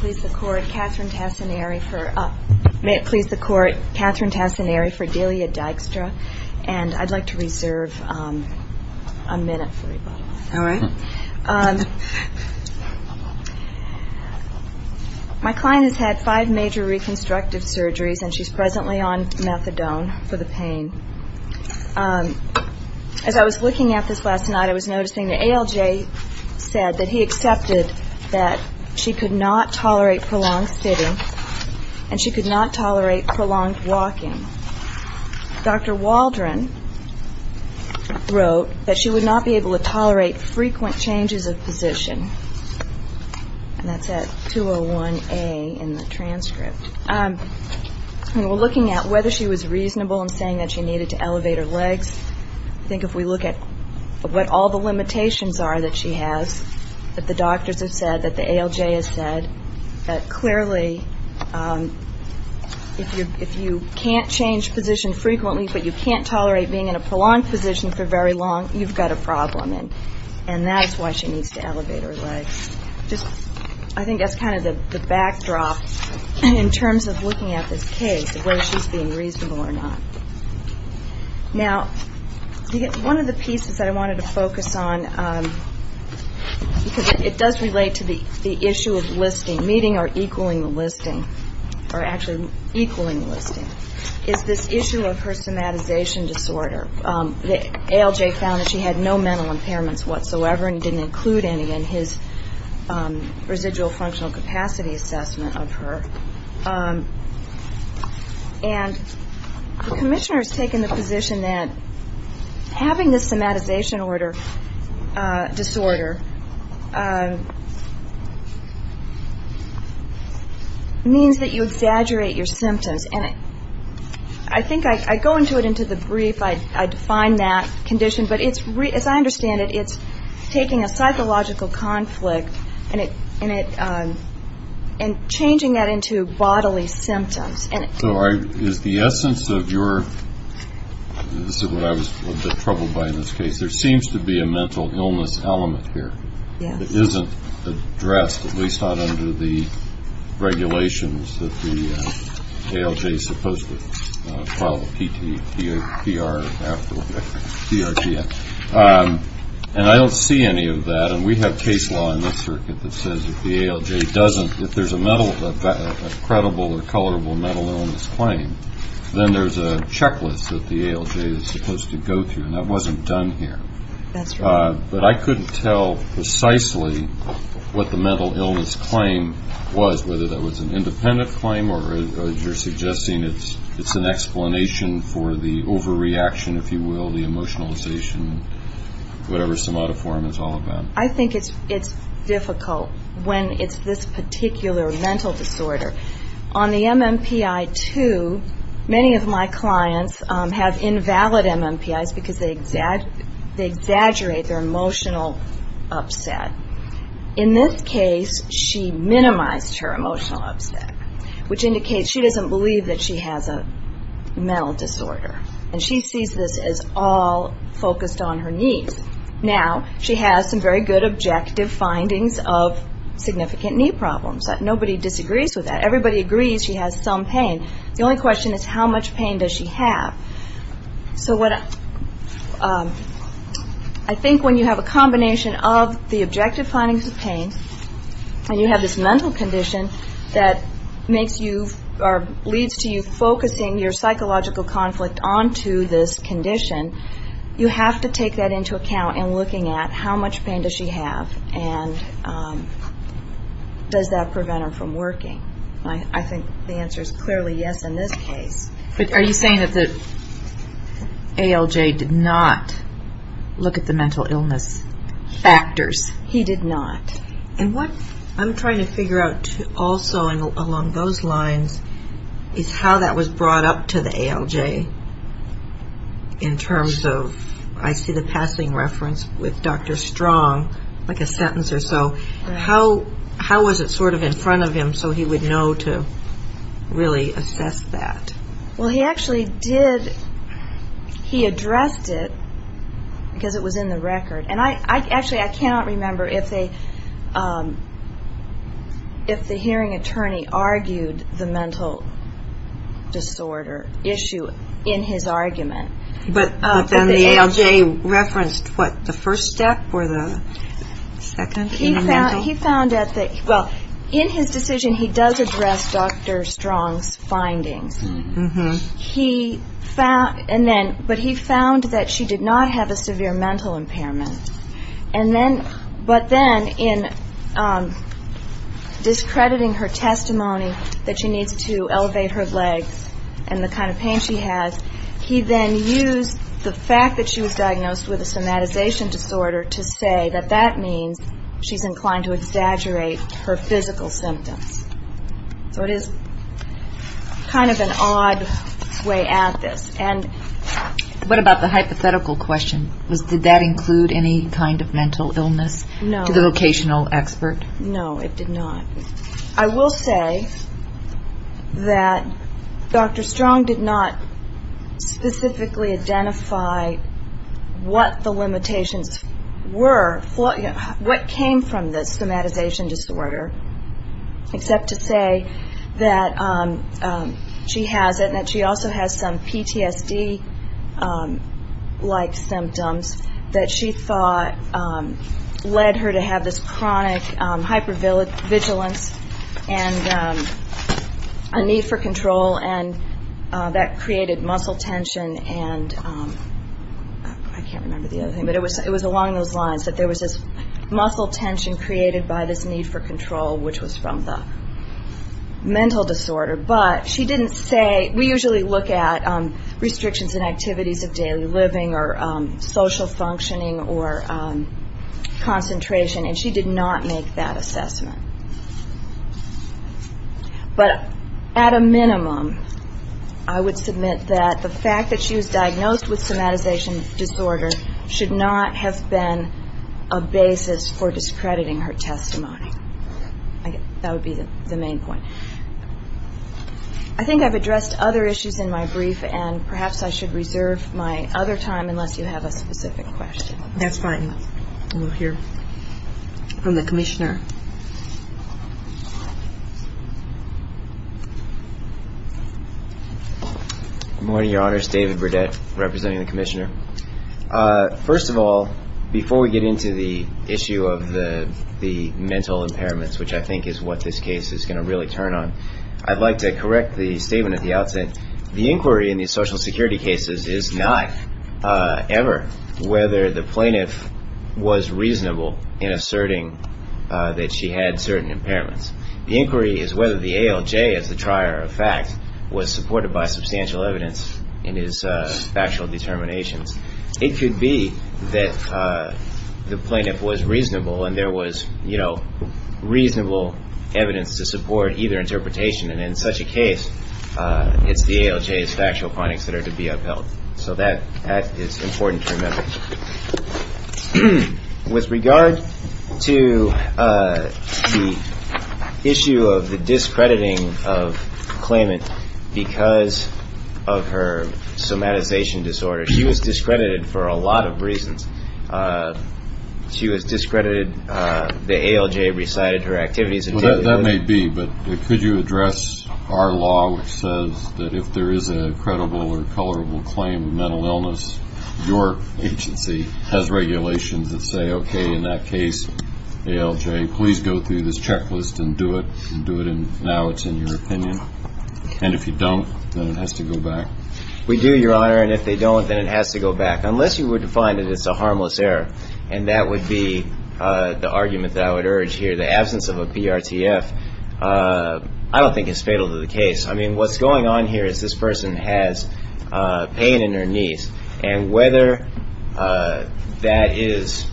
My client has had five major reconstructive surgeries and she's presently on methadone for the pain. As I was looking at this last night, I was noticing the ALJ said that he could not tolerate prolonged sitting and she could not tolerate prolonged walking. Dr. Waldron wrote that she would not be able to tolerate frequent changes of position. That's at 201A in the transcript. We're looking at whether she was reasonable in saying that she needed to elevate her legs. I think if we look at what all the limitations are that she has, that the doctors have said, that the ALJ has said, that clearly if you can't change position frequently but you can't tolerate being in a prolonged position for very long, you've got a problem. And that's why she needs to elevate her legs. I think that's kind of the backdrop in terms of looking at this case of whether she's being reasonable or not. Now, one of the pieces that I wanted to focus on, because it does relate to the issue of listing, meeting or equaling the listing, or actually equaling the listing, is this issue of her somatization disorder. The ALJ found that she had no mental impairments whatsoever and didn't include any in his residual functional capacity assessment of her. And the commissioner has taken the position that having this somatization disorder means that you exaggerate your symptoms. And I think I go into it in the brief. I define that condition. But as I understand it, it's taking a psychological conflict and changing that into bodily symptoms. So is the essence of your, this is what I was a bit troubled by in this case, there seems to be a mental illness element here that isn't addressed, at least not under the case law in this circuit that says if the ALJ doesn't, if there's a credible or colorable mental illness claim, then there's a checklist that the ALJ is supposed to go through. And that wasn't done here. That's right. But I couldn't tell precisely what the mental illness claim was, whether that was an independent claim or, as you're suggesting, it's an explanation for the overreaction, if you will, the emotionalization, whatever somatoform is all about. I think it's difficult when it's this particular mental disorder. On the MMPI-2, many of my clients have invalid MMPIs because they exaggerate their emotional upset. In this case, she minimized her emotional upset, which indicates she doesn't believe that she has a mental disorder. And she sees this as all focused on her knees. Now, she has some very good objective findings of significant knee problems. Nobody disagrees with that. Everybody agrees she has some pain. The only question is how much pain does she have? So what I think when you have a combination of the objective findings of pain and you and leads to you focusing your psychological conflict onto this condition, you have to take that into account in looking at how much pain does she have and does that prevent her from working. I think the answer is clearly yes in this case. But are you saying that the ALJ did not look at the mental illness factors? He did not. And what I'm trying to figure out also along those lines is how that was brought up to the ALJ in terms of, I see the passing reference with Dr. Strong, like a sentence or so. How was it sort of in front of him so he would know to really assess that? Well, he actually did, he addressed it because it was in the record. And I actually, I cannot remember if they, if the hearing attorney argued the mental disorder issue in his argument. But then the ALJ referenced what, the first step or the second in the mental? He found that, well, in his decision he does address Dr. Strong's findings. He found, but he found that she did not have a severe mental impairment. And then, but then in discrediting her testimony that she needs to elevate her legs and the kind of pain she has, he then used the fact that she was diagnosed with a somatization disorder to say that that means she's inclined to exaggerate her physical symptoms. So it is kind of an odd way at this. And what about the hypothetical question? Did that include any kind of mental illness? No. To the vocational expert? No, it did not. I will say that Dr. Strong did not specifically identify what the limitations were, what came from the somatization disorder, except to say that she has it and that she also has some PTSD-like symptoms that she thought led her to have this chronic hypervigilance and a need for control and that created muscle tension and, I can't remember the other thing, but it was along those lines that there was this muscle tension created by this need for look at restrictions in activities of daily living or social functioning or concentration, and she did not make that assessment. But at a minimum, I would submit that the fact that she was diagnosed with somatization disorder should not have been a basis for discrediting her testimony. That would be the main point. I think I've addressed other issues in my brief, and perhaps I should reserve my other time unless you have a specific question. That's fine. We'll hear from the Commissioner. Good morning, Your Honors. David Burdett, representing the Commissioner. First of all, before we get into the issue of the mental impairments, which I think is what this case is going to really turn on, I'd like to correct the statement at the outset. The inquiry in the social security cases is not ever whether the plaintiff was reasonable in asserting that she had certain impairments. The inquiry is whether the ALJ, as the trier of fact, was supported by substantial evidence in his factual determinations. It could be that the plaintiff was reasonable and there was, you know, reasonable evidence to support either interpretation. And in such a case, it's the ALJ's factual findings that are to be upheld. So that is important to remember. With regard to the issue of the discrediting of claimant because of her somatization disorder, she was discredited for a lot of reasons. She was discredited. The ALJ recited her activities. That may be, but could you address our law which says that if there is a credible or colorable claim of mental illness, your agency has regulations that say, okay, in that case, ALJ, please go through this checklist and do it and do it and now it's in your opinion. And if you don't, then it has to go back. We do, Your Honor. And if they don't, then it has to go back. Unless you would find that it's a harmless error. And that would be the argument that I would urge here. The absence of a PRTF, I don't think is fatal to the case. I mean, what's going on here is this person has pain in her knees. And whether that is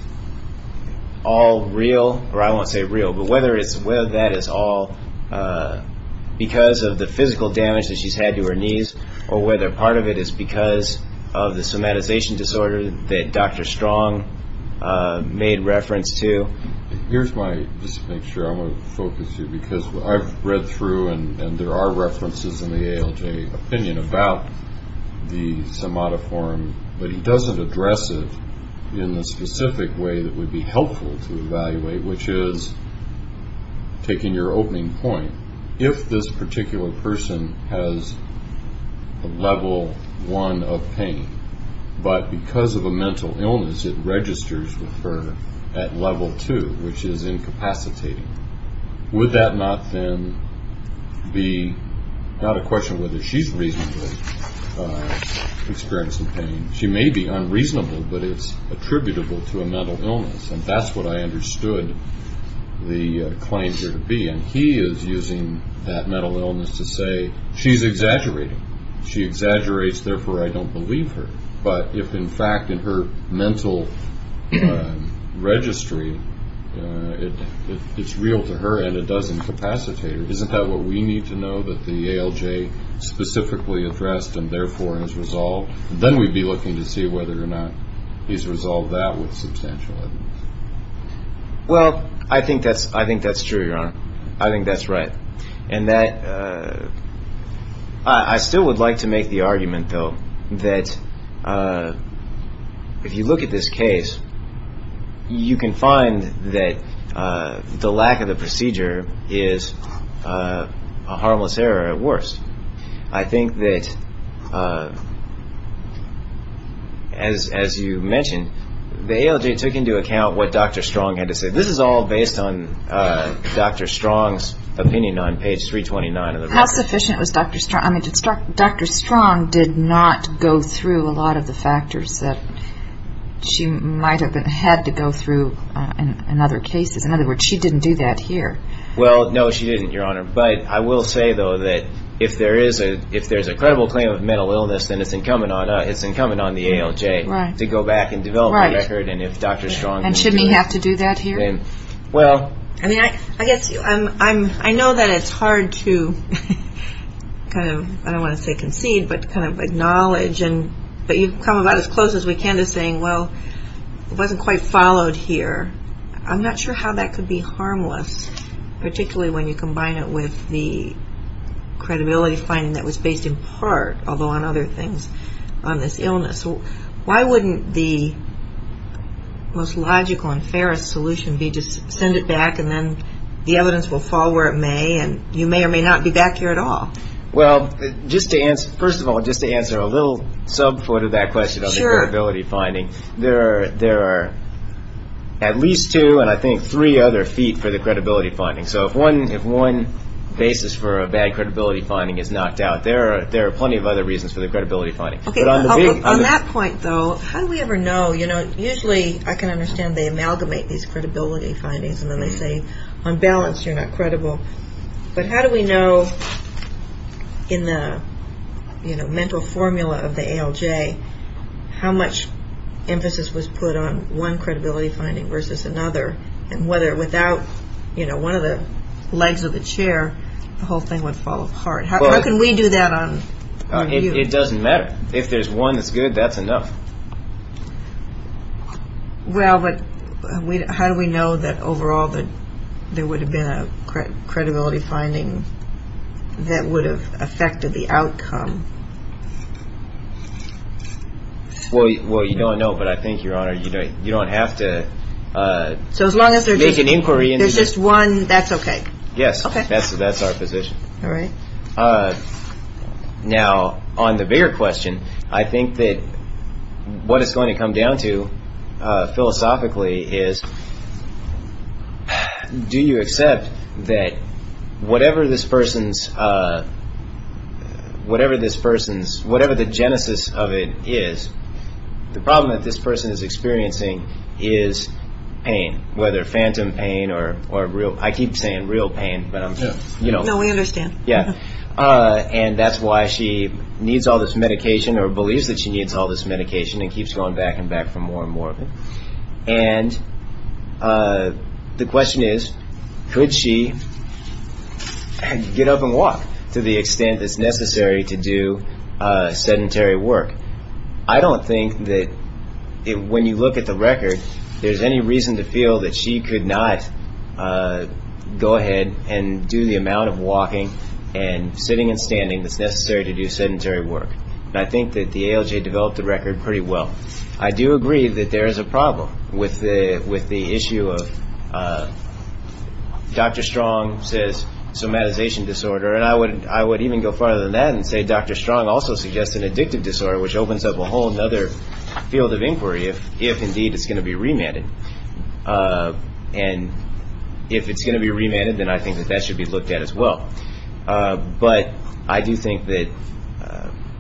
all real, or I won't say real, but whether that is all because of the physical damage that she's had to her knees, or whether part of it is because of the somatization disorder that Dr. Strong made reference to. Here's my, just to make sure I'm going to focus you, because I've read through and there are references in the ALJ opinion about the somatiform, but he doesn't address it in the ALJ opinion. Taking your opening point, if this particular person has a level one of pain, but because of a mental illness it registers with her at level two, which is incapacitating, would that not then be, not a question of whether she's reasonably experiencing pain. She may be unreasonable, but it's attributable to a mental illness. And that's what I understood the claim here to be. And he is using that mental illness to say, she's exaggerating. She exaggerates, therefore I don't believe her. But if in fact in her mental registry, it's real to her and it does incapacitate her, isn't that what we need to know that the ALJ specifically addressed and therefore has resolved? Then we'd be looking to see whether or not he's resolved that with substantial evidence. Well, I think that's true, Your Honor. I think that's right. And that, I still would like to make the argument, though, that if you look at this case, you can find that the lack of the procedure is a harmless error at worst. I think that, as you mentioned, the ALJ took into account what Dr. Strong had to say. This is all based on Dr. Strong's opinion on page 329 of the record. How sufficient was Dr. Strong? Dr. Strong did not go through a lot of the factors that she might have had to go through in other cases. In other words, she didn't do that here. Well, no, she didn't, Your Honor. But I will say, though, that if there is a credible claim of mental illness, then it's incumbent on the ALJ to go back and develop a record. And if Dr. Strong... And shouldn't he have to do that here? Well... I mean, I guess I know that it's hard to kind of, I don't want to say concede, but kind of acknowledge. But you've come about as close as we can to saying, well, it wasn't quite followed here. I'm not sure how that could be harmless, particularly when you combine it with the credibility finding that was based in part, although on other things, on this most logical and fairest solution, be just send it back and then the evidence will fall where it may and you may or may not be back here at all. Well, just to answer, first of all, just to answer a little sub foot of that question on the credibility finding, there are at least two and I think three other feet for the credibility finding. So if one basis for a bad credibility finding is knocked out, there are plenty of other reasons for the credibility finding. On that point, though, how do we ever know, you know, usually I can understand they amalgamate these credibility findings and then they say, on balance, you're not credible. But how do we know in the mental formula of the ALJ how much emphasis was put on one credibility finding versus another and whether without, you know, one of the legs of the chair, the whole thing would fall apart. How can we do that on you? It doesn't matter. If there's one that's good, that's enough. Well, but how do we know that overall that there would have been a credibility finding that would have affected the outcome? Well, you don't know, but I think, Your Honor, you don't have to make an inquiry into it. So as long as there's just one, that's okay? Yes. That's our position. All right. Now, on the bigger question, I think that what it's going to come down to philosophically is do you accept that whatever this person's, whatever this person's, whatever the genesis of it is, the problem that this person is experiencing is pain, whether phantom pain or real, I keep saying real pain, but I'm just, you know. No, we understand. Yeah. And that's why she needs all this medication or believes that she needs all this medication and keeps going back and back for more and more of it. And the question is, could she get up and walk to the extent that's necessary to do sedentary work? I don't think that when you look at the record, there's any reason to feel that she could not go ahead and do the amount of walking and sitting and standing that's necessary to do sedentary work. And I think that the ALJ developed the record pretty well. I do agree that there is a problem with the issue of, Dr. Strong says somatization disorder, and I would even go farther than that and say Dr. Strong also suggests an addictive disorder, which opens up a whole other field of inquiry if indeed it's going to be remanded. And if it's going to be remanded, then I think that that should be looked at as well. But I do think that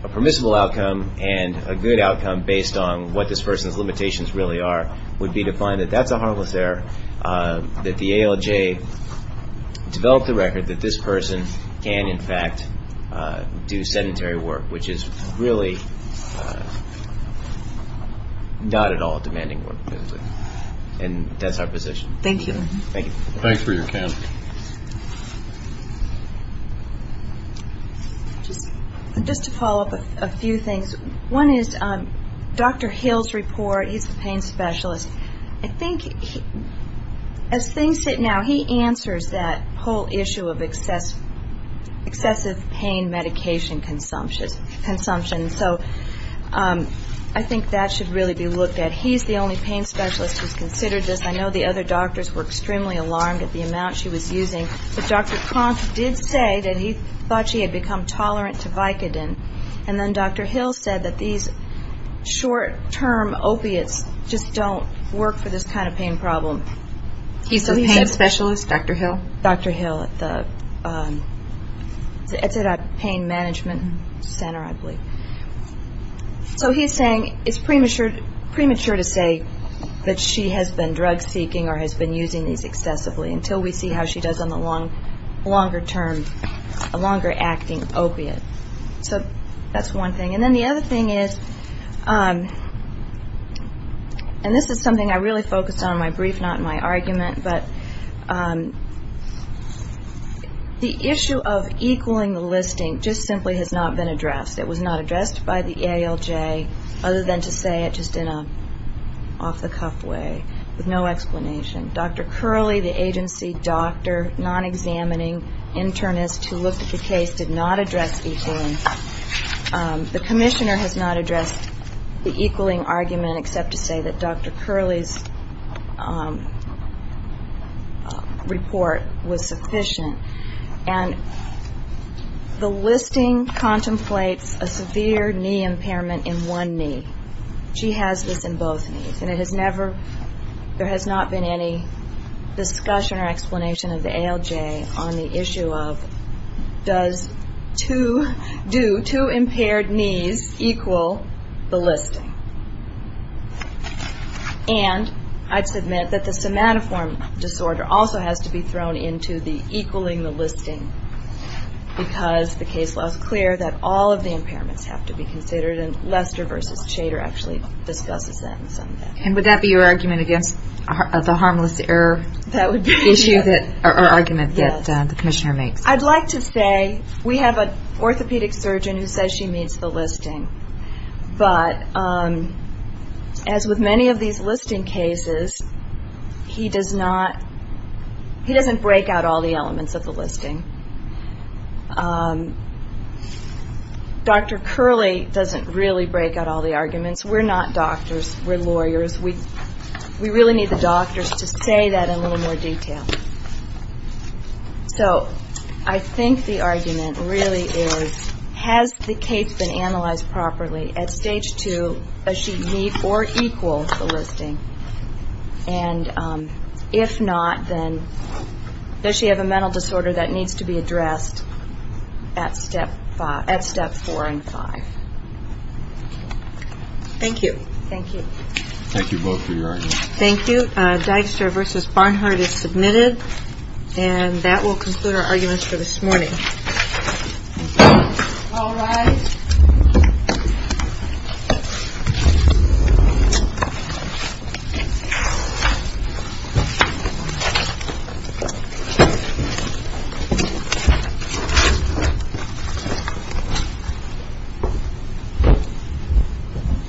a permissible outcome and a good outcome based on what this person's limitations really are would be to find that that's a harmless error, that the ALJ developed the record that this person can, in fact, do sedentary work, which is really not at all a demanding work. And that's our position. Thank you. Thank you. Thanks for your comment. Just to follow up a few things. One is Dr. Hill's report, he's the pain specialist. I think as things sit now, he answers that whole issue of excessive pain medication consumption. So I think that should really be looked at. He's the only pain specialist who's considered this. I know the other doctors were extremely alarmed at the amount she was using. But Dr. Kronk did say that he thought she had become tolerant to Vicodin. And then Dr. Hill said that these short-term opiates just don't work for this kind of pain problem. He's a pain specialist, Dr. Hill? Dr. Hill at the Pain Management Center, I believe. So he's saying it's premature to say that she has been drug-seeking or has been using these excessively until we see how she does on the longer term, a longer acting opiate. So that's one thing. And then the other thing is, and this is something I really focused on in my brief, not in my presentation, the issue of equaling the listing just simply has not been addressed. It was not addressed by the ALJ, other than to say it just in an off-the-cuff way, with no explanation. Dr. Curley, the agency doctor, non-examining internist who looked at the case, did not address equaling. The commissioner has not addressed the equaling argument except to say that Dr. Curley's report was sufficient. And the listing contemplates a severe knee impairment in one knee. She has this in both knees. And it has never, there has not been any discussion or explanation of the ALJ on the issue of does two, do two impaired knees equal the listing. And I'd submit that the somatoform disorder also has to be thrown into the equaling the listing because the case law is clear that all of the impairments have to be considered. And Lester v. Shader actually discusses that in some way. And would that be your argument against the harmless error issue or argument that the commissioner makes? I'd like to say we have an orthopedic surgeon who says she meets the listing. But as with many of these listing cases, he doesn't break out all the elements of the listing. Dr. Curley doesn't really break out all the arguments. We're not doctors. We're lawyers. We really need the doctors to say that in a little more detail. So I think the argument really is has the case been analyzed properly at stage two, does she meet or equal the listing? And if not, then does she have a mental disorder that needs to be addressed at step four and five? Thank you. Thank you. Thank you both for your arguments. Thank you. Dijkstra v. Barnhart is submitted. And that will conclude our arguments for this morning. All rise.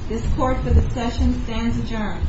This court for the session stands adjourned.